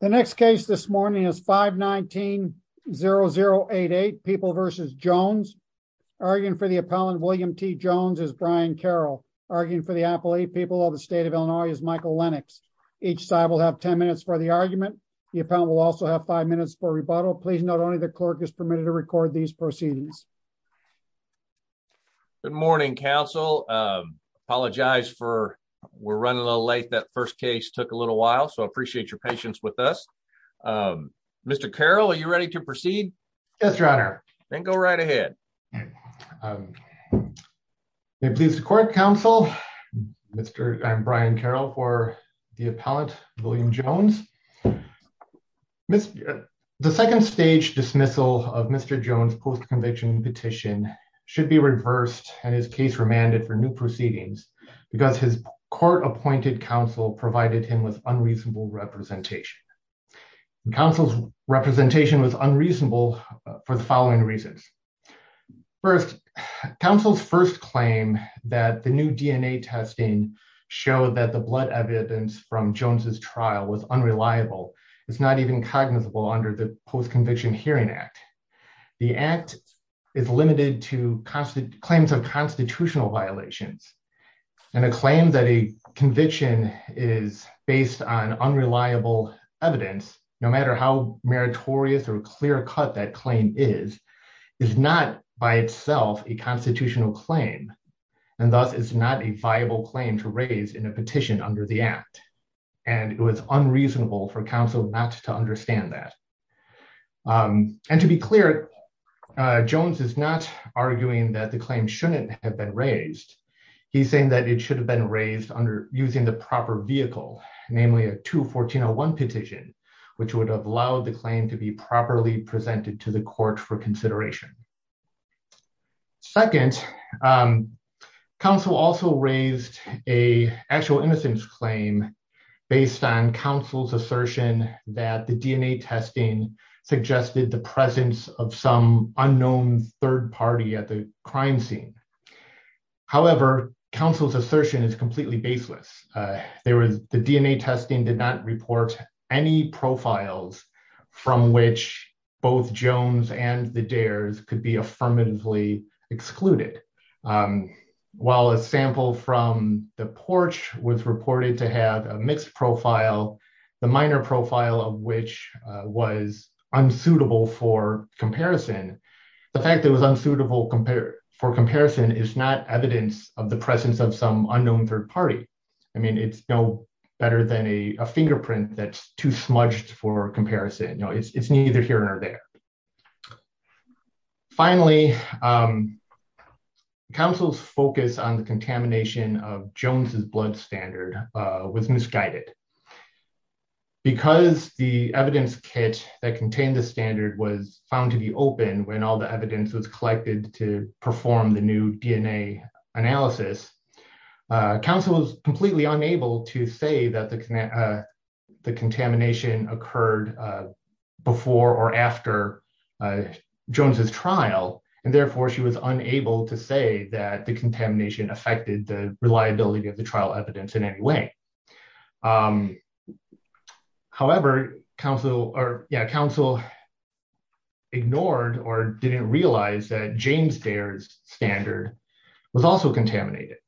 The next case this morning is 519-0088, People v. Jones. Arguing for the appellant, William T. Jones, is Brian Carroll. Arguing for the appellate, People of the State of Illinois, is Michael Lennox. Each side will have 10 minutes for the argument. The appellant will also have five minutes for rebuttal. Please note only the clerk is permitted to record these proceedings. Good morning, counsel. Apologize for we're running a little late. That first case took a little while, so I appreciate your patience with us. Mr. Carroll, are you ready to proceed? Yes, your honor. Then go right ahead. May it please the court, counsel, I'm Brian Carroll for the appellant, William Jones. The second stage dismissal of Mr. Jones' post-conviction petition should be reversed, and his case remanded for new proceedings because his court-appointed counsel provided him with unreasonable representation. Counsel's representation was unreasonable for the following reasons. First, counsel's first claim that the new DNA testing showed that the blood evidence from Jones' trial was unreliable. It's not even cognizable under the Post-Conviction Hearing Act. The act is limited to claims of constitutional violations, and a claim that a conviction is based on unreliable evidence, no matter how meritorious or clear-cut that claim is, is not by itself a constitutional claim, and thus is not a viable claim to raise in a petition under the act. And it was unreasonable for counsel not to understand that. And to be clear, Jones is not arguing that the claim shouldn't have been raised. He's saying that it should have been raised under using the proper vehicle, namely a 2-1401 petition, which would have allowed the claim to be properly presented to the court for consideration. Second, counsel also raised a actual innocence claim based on counsel's assertion that the DNA testing suggested the presence of some unknown third party at the crime scene. However, counsel's assertion is completely baseless. The DNA testing did not report any profiles from which both Jones and the Dares could be affirmatively excluded. While a sample from the porch was reported to have a mixed profile, the minor profile of which was unsuitable for comparison, the fact that it was unsuitable for comparison is not evidence of the presence of some unknown third party. I mean, it's no better than a fingerprint that's too smudged for comparison. No, it's neither here nor there. Finally, counsel's focus on the contamination of Jones's blood standard was misguided. Because the evidence kit that contained the standard was found to be open when all the evidence was collected to perform the new DNA analysis, counsel was completely unable to say that the contamination occurred before or after Jones's trial and therefore she was unable to say that the contamination affected the reliability of the trial evidence in any way. However, counsel ignored or didn't realize that James Dare's standard was also contaminated.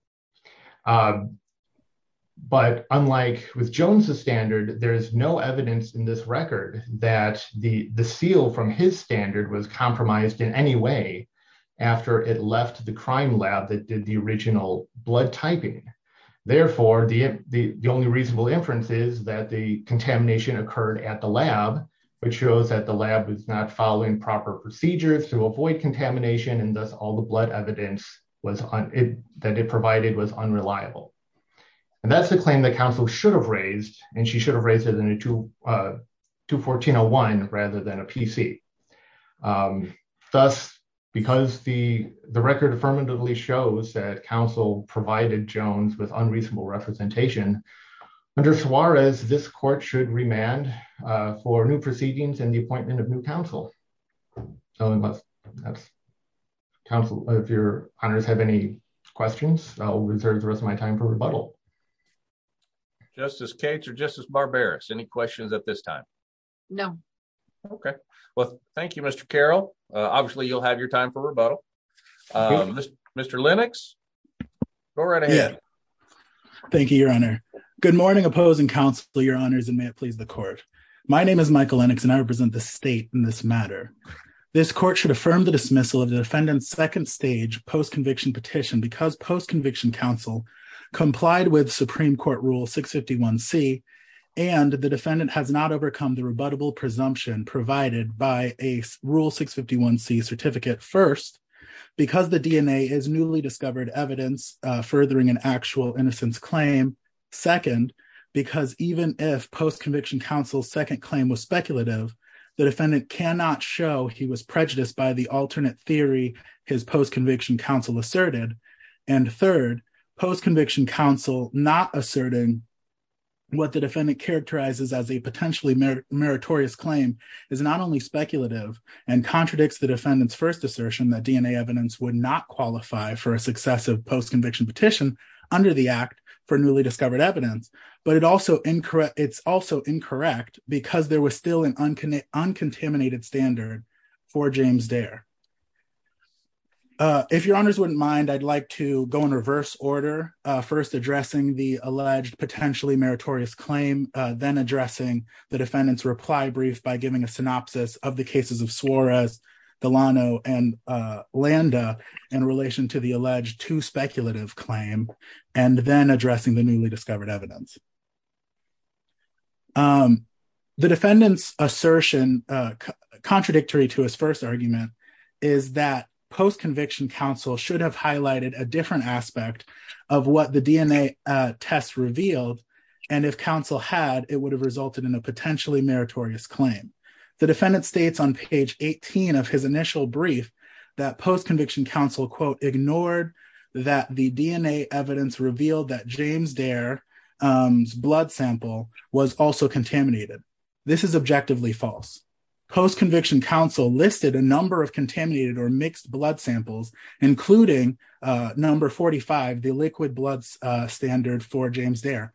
But unlike with Jones's standard, there is no evidence in this record that the seal from his standard was compromised in any way after it left the crime lab that did the original blood typing. Therefore, the only reasonable inference is that the contamination occurred at the lab, which shows that the lab was not following proper procedures to avoid contamination and thus all the blood evidence that it provided was unreliable. And that's the claim that counsel should have raised and she should have raised it in a 214-01 rather than a PC. Thus, because the record affirmatively shows that counsel provided Jones with unreasonable representation, under Suarez, this court should remand for new proceedings and the appointment of new counsel. Counsel, if your honors have any questions, I'll reserve the rest of my time for rebuttal. Justice Cates or Justice Barberis, any questions at this time? No. Okay, well, thank you, Mr. Carroll. Obviously, you'll have your time for rebuttal. Mr. Lennox, go right ahead. Thank you, your honor. Good morning, opposing counsel, your honors, and may it please the court. My name is Michael Lennox and I represent the state in this matter. This court should affirm the dismissal of the defendant's second stage post-conviction petition because post-conviction counsel complied with Supreme Court Rule 651C and the defendant has not overcome the rebuttable presumption provided by a Rule 651C certificate. First, because the DNA is newly discovered evidence furthering an actual innocence claim. Second, because even if post-conviction counsel's second claim was speculative, the defendant cannot show he was prejudiced by the alternate theory his post-conviction counsel asserted. And third, post-conviction counsel not asserting what the defendant characterizes as a potentially meritorious claim is not only speculative and contradicts the defendant's first assertion that DNA evidence would not qualify for a successive post-conviction petition under the act for newly discovered evidence, but it's also incorrect because there was still an uncontaminated standard for James Dare. If your honors wouldn't mind, I'd like to go in reverse order, first addressing the alleged potentially meritorious claim, then addressing the defendant's reply brief by giving a synopsis of the cases of Suarez, Delano, and Landa in relation to the alleged too speculative claim, and then addressing the newly discovered evidence. The defendant's assertion contradictory to his first argument is that post-conviction counsel should have highlighted a different aspect of what the DNA test revealed. And if counsel had, it would have resulted in a potentially meritorious claim. The defendant states on page 18 of his initial brief that post-conviction counsel, quote, ignored that the DNA evidence revealed that James Dare's blood sample was also contaminated. This is objectively false. Post-conviction counsel listed a number of contaminated or mixed blood samples, including number 45, the liquid blood standard for James Dare.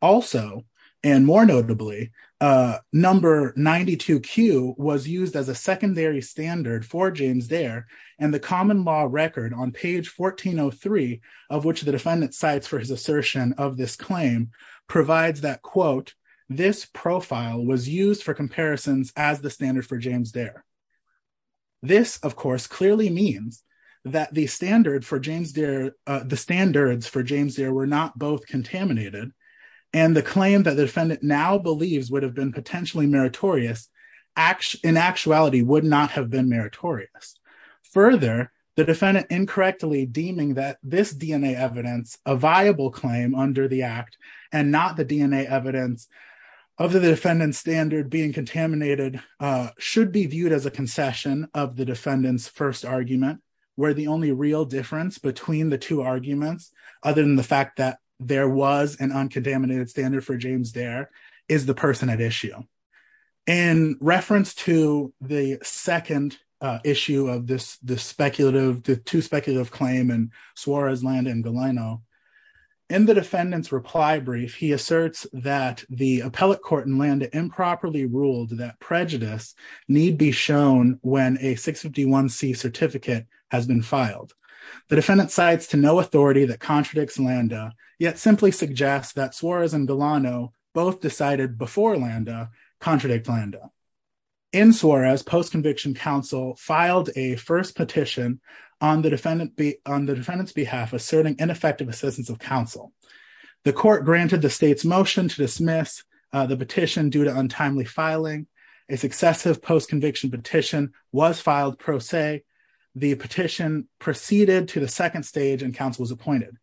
Also, and more notably, number 92Q was used as a secondary standard for James Dare and the common law record on page 1403 of which the defendant cites for his assertion of this claim provides that, quote, this profile was used for comparisons as the standard for James Dare. This, of course, clearly means that the standards for James Dare were not both contaminated and the claim that the defendant now believes would have been potentially meritorious in actuality would not have been meritorious. Further, the defendant incorrectly deeming that this DNA evidence, a viable claim under the act and not the DNA evidence of the defendant's standard being contaminated should be viewed as a concession of the defendant's first argument where the only real difference between the two arguments other than the fact that there was an uncontaminated standard for James Dare is the person at issue. In reference to the second issue of this speculative, the two speculative claim in Suarez, Landa and Galeno, in the defendant's reply brief, he asserts that the appellate court in Landa improperly ruled that prejudice need be shown when a 651C certificate has been filed. The defendant cites to no authority that contradicts Landa, yet simply suggests that Suarez and Galeno both decided before Landa contradict Landa. In Suarez, post-conviction counsel filed a first petition on the defendant's behalf asserting ineffective assistance of counsel. The court granted the state's motion to dismiss the petition due to untimely filing. A successive post-conviction petition was filed pro se. The petition proceeded to the second stage and counsel was appointed.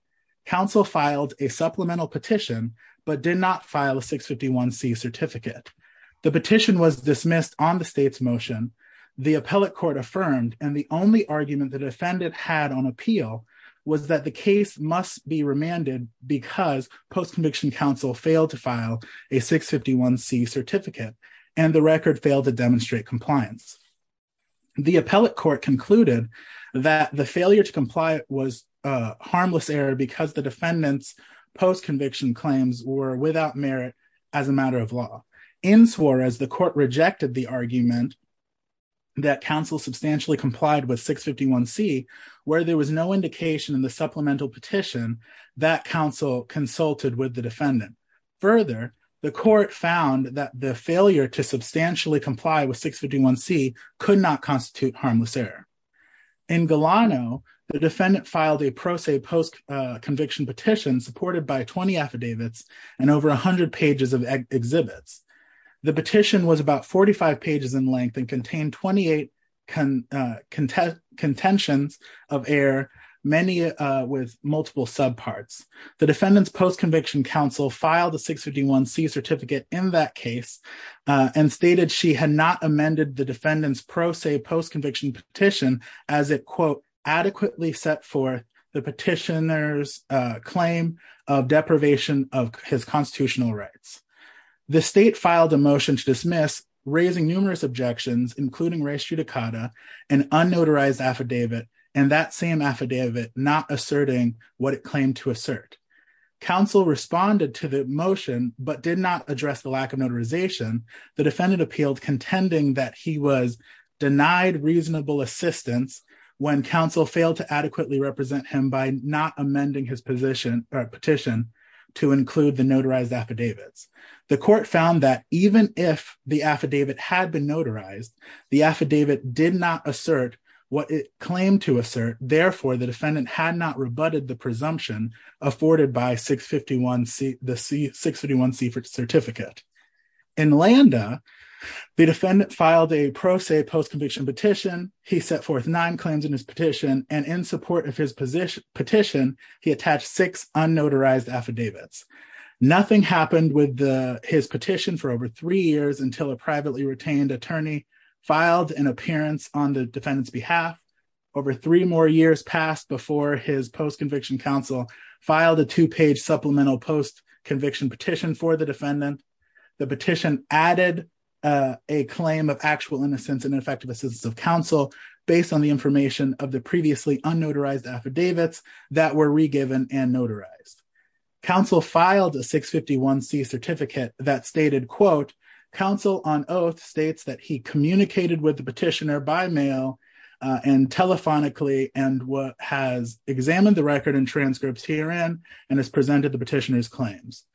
Counsel filed a supplemental petition, but did not file a 651C certificate. The petition was dismissed on the state's motion. The appellate court affirmed, and the only argument the defendant had on appeal was that the case must be remanded because post-conviction counsel failed to file a 651C certificate and the record failed to demonstrate compliance. The appellate court concluded that the failure to comply was a harmless error because the defendant's post-conviction claims were without merit as a matter of law. In Suarez, the court rejected the argument that counsel substantially complied with 651C where there was no indication in the supplemental petition that counsel consulted with the defendant. Further, the court found that the failure to substantially comply with 651C could not constitute harmless error. In Galano, the defendant filed a pro se post-conviction petition supported by 20 affidavits and over 100 pages of exhibits. The petition was about 45 pages in length and contained 28 contentions of error, many with multiple subparts. The defendant's post-conviction counsel filed a 651C certificate in that case and stated she had not amended the defendant's pro se post-conviction petition as it, quote, adequately set forth the petitioner's claim of deprivation of his constitutional rights. The state filed a motion to dismiss, raising numerous objections, including res judicata, an unnotarized affidavit and that same affidavit not asserting what it claimed to assert. Counsel responded to the motion but did not address the lack of notarization. The defendant appealed contending that he was denied reasonable assistance when counsel failed to adequately represent him by not amending his petition to include the notarized affidavits. The court found that even if the affidavit had been notarized, the affidavit did not assert what it claimed to assert. Therefore, the defendant had not rebutted the presumption afforded by the 651C certificate. In Landa, the defendant filed a pro se post-conviction petition. He set forth nine claims in his petition and in support of his petition, he attached six unnotarized affidavits. Nothing happened with his petition for over three years until a privately retained attorney filed an appearance on the defendant's behalf. Over three more years passed before his post-conviction counsel filed a two-page supplemental post-conviction petition for the defendant. The petition added a claim of actual innocence and ineffective assistance of counsel based on the information of the previously unnotarized affidavits that were regiven and notarized. Counsel filed a 651C certificate that stated, counsel on oath states that he communicated with the petitioner by mail and telephonically and has examined the record and transcripts herein and has presented the petitioner's claims.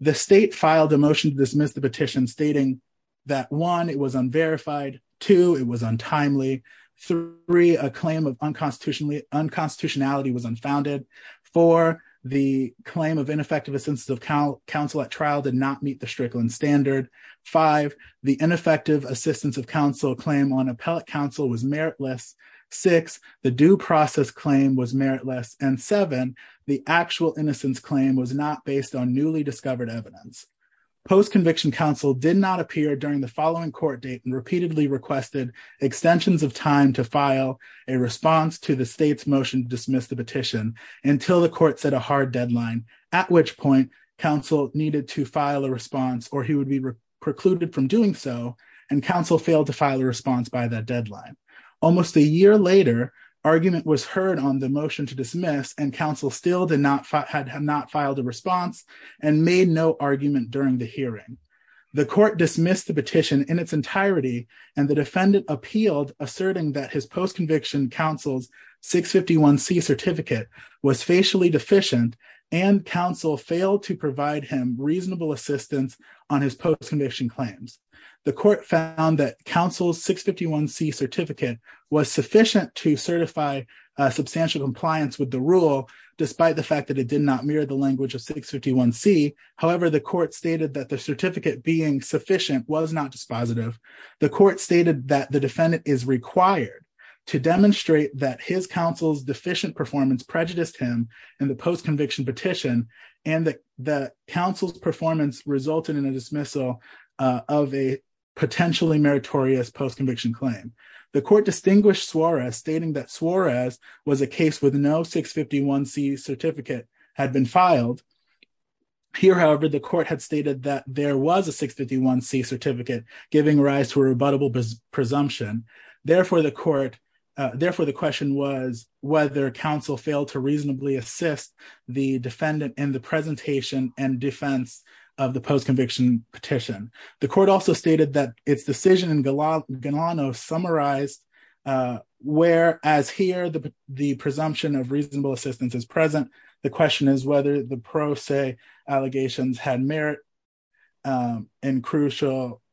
The state filed a motion to dismiss the petition stating that one, it was unverified. Two, it was untimely. Three, a claim of unconstitutionality was unfounded. Four, the claim of ineffective assistance of counsel at trial did not meet the Strickland standard. Five, the ineffective assistance of counsel claim on appellate counsel was meritless. Six, the due process claim was meritless and seven, the actual innocence claim was not based on newly discovered evidence. Post-conviction counsel did not appear during the following court date and repeatedly requested extensions of time to file a response to the state's motion to dismiss the petition until the court set a hard deadline at which point counsel needed to file a response or he would be precluded from doing so and counsel failed to file a response by that deadline. Almost a year later, argument was heard on the motion to dismiss and counsel still had not filed a response and made no argument during the hearing. The court dismissed the petition in its entirety and the defendant appealed asserting that his post-conviction counsel's 651C certificate was facially deficient and counsel failed to provide him reasonable assistance on his post-conviction claims. The court found that counsel's 651C certificate was sufficient to certify a substantial compliance with the rule despite the fact that it did not mirror the language of 651C. However, the court stated that the certificate being sufficient was not dispositive. The court stated that the defendant is required to demonstrate that his counsel's deficient performance prejudiced him in the post-conviction petition and that counsel's performance resulted in a dismissal of a potentially meritorious post-conviction claim. The court distinguished Suarez stating that Suarez was a case with no 651C certificate had been filed. Here, however, the court had stated that there was a 651C certificate giving rise to a rebuttable presumption. Therefore, the court, therefore the question was whether counsel failed to reasonably assist the defendant in the presentation and defense of the post-conviction petition. The court also stated that its decision in Galano summarized where as here, the presumption of reasonable assistance is present. The question is whether the pro se allegations had merit and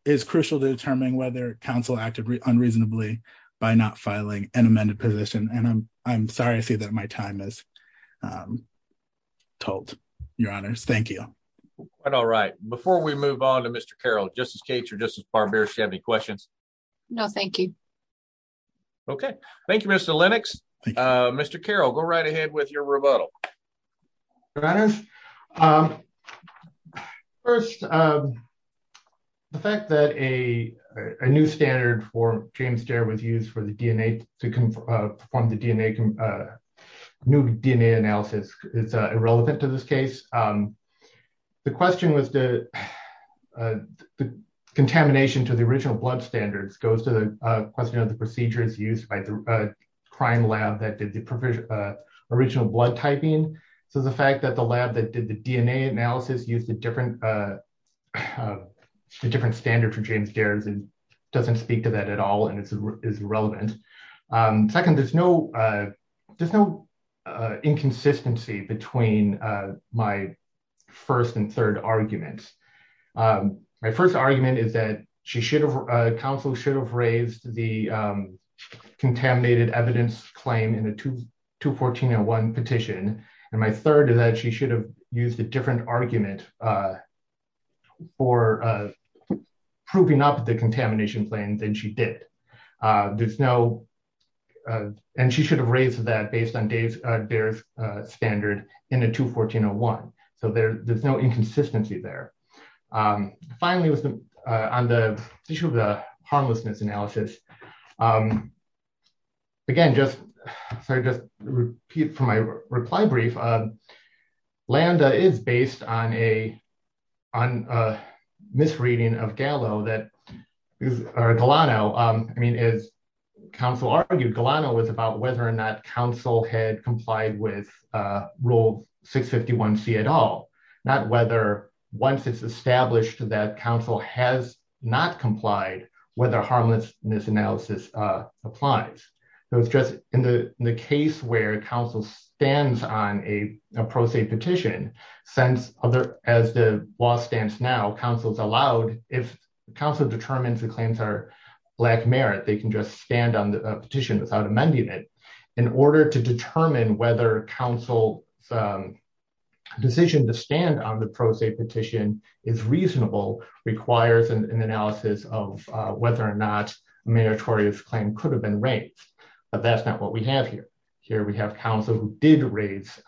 is crucial to determining whether counsel acted unreasonably by not filing an amended position. And I'm sorry to say that my time is told, your honors. Thank you. All right. Before we move on to Mr. Carroll, Justice Cates or Justice Barbier, do you have any questions? No, thank you. Okay. Thank you, Mr. Lennox. Mr. Carroll, go right ahead with your rebuttal. Your honors. First, the fact that a new standard for James Dare was used for the DNA to perform the new DNA analysis is irrelevant to this case. The question was the contamination to the original blood standards goes to the question of the procedures used by the crime lab that did the original blood typing. So the fact that the lab that did the DNA analysis used a different standard for James Dare doesn't speak to that at all and it's irrelevant. Second, there's no inconsistency between my first and third arguments. My first argument is that counsel should have raised the contaminated evidence claim in a 214-1 petition. And my third is that she should have used a different argument for proving up the contamination claims than she did. There's no, and she should have raised that based on Dare's standard in a 214-1. So there's no inconsistency there. Finally, on the issue of the harmlessness analysis, again, just, sorry, just repeat for my reply brief. Landa is based on a misreading of Gallo that, or Gallano, I mean, as counsel argued, Gallano was about whether or not counsel had complied with rule 651C at all, not whether once it's established that counsel has not complied, whether harmlessness analysis applies. It was just in the case where counsel stands on a pro se petition, since as the law stands now, counsel's allowed, if counsel determines the claims are black merit, they can just stand on the petition without amending it. In order to determine whether counsel's decision to stand on the pro se petition is reasonable requires an analysis of whether or not meritorious claim could have been raised. But that's not what we have here. Here we have counsel who did raise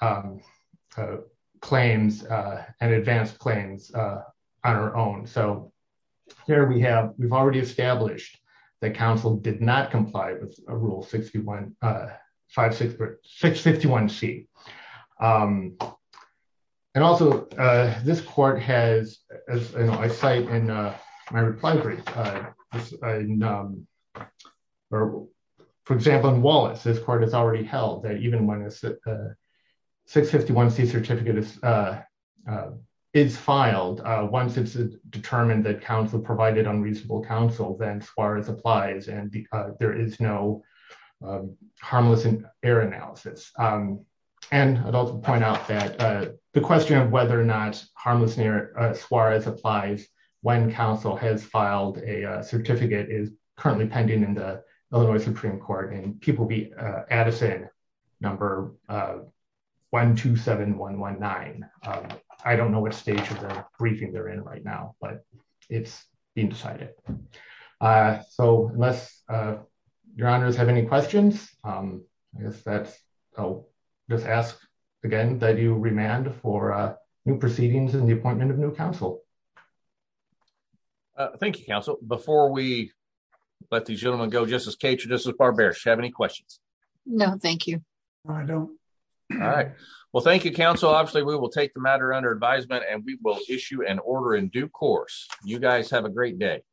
claims and advanced claims on our own. So here we have, we've already established that counsel did not comply with rule 651C. And also this court has, as I cite in my reply brief, for example, in Wallace, this court has already held that even when a 651C certificate is filed, once it's determined that counsel provided unreasonable counsel, then soares applies and there is no harmless error analysis. And I'd also point out that the question of whether or not harmless error soares applies when counsel has filed a certificate is currently pending in the Illinois Supreme Court and people will be at us in number 127119. I don't know what stage of the briefing they're in right now but it's being decided. So unless your honors have any questions, I guess that's, I'll just ask again that you remand for new proceedings and the appointment of new counsel. Thank you, counsel. Before we let these gentlemen go, Justice Cater, Justice Barber, do you have any questions? No, thank you. I don't. All right. Well, thank you, counsel. Obviously we will take the matter under advisement and we will issue an order in due course. You guys have a great day.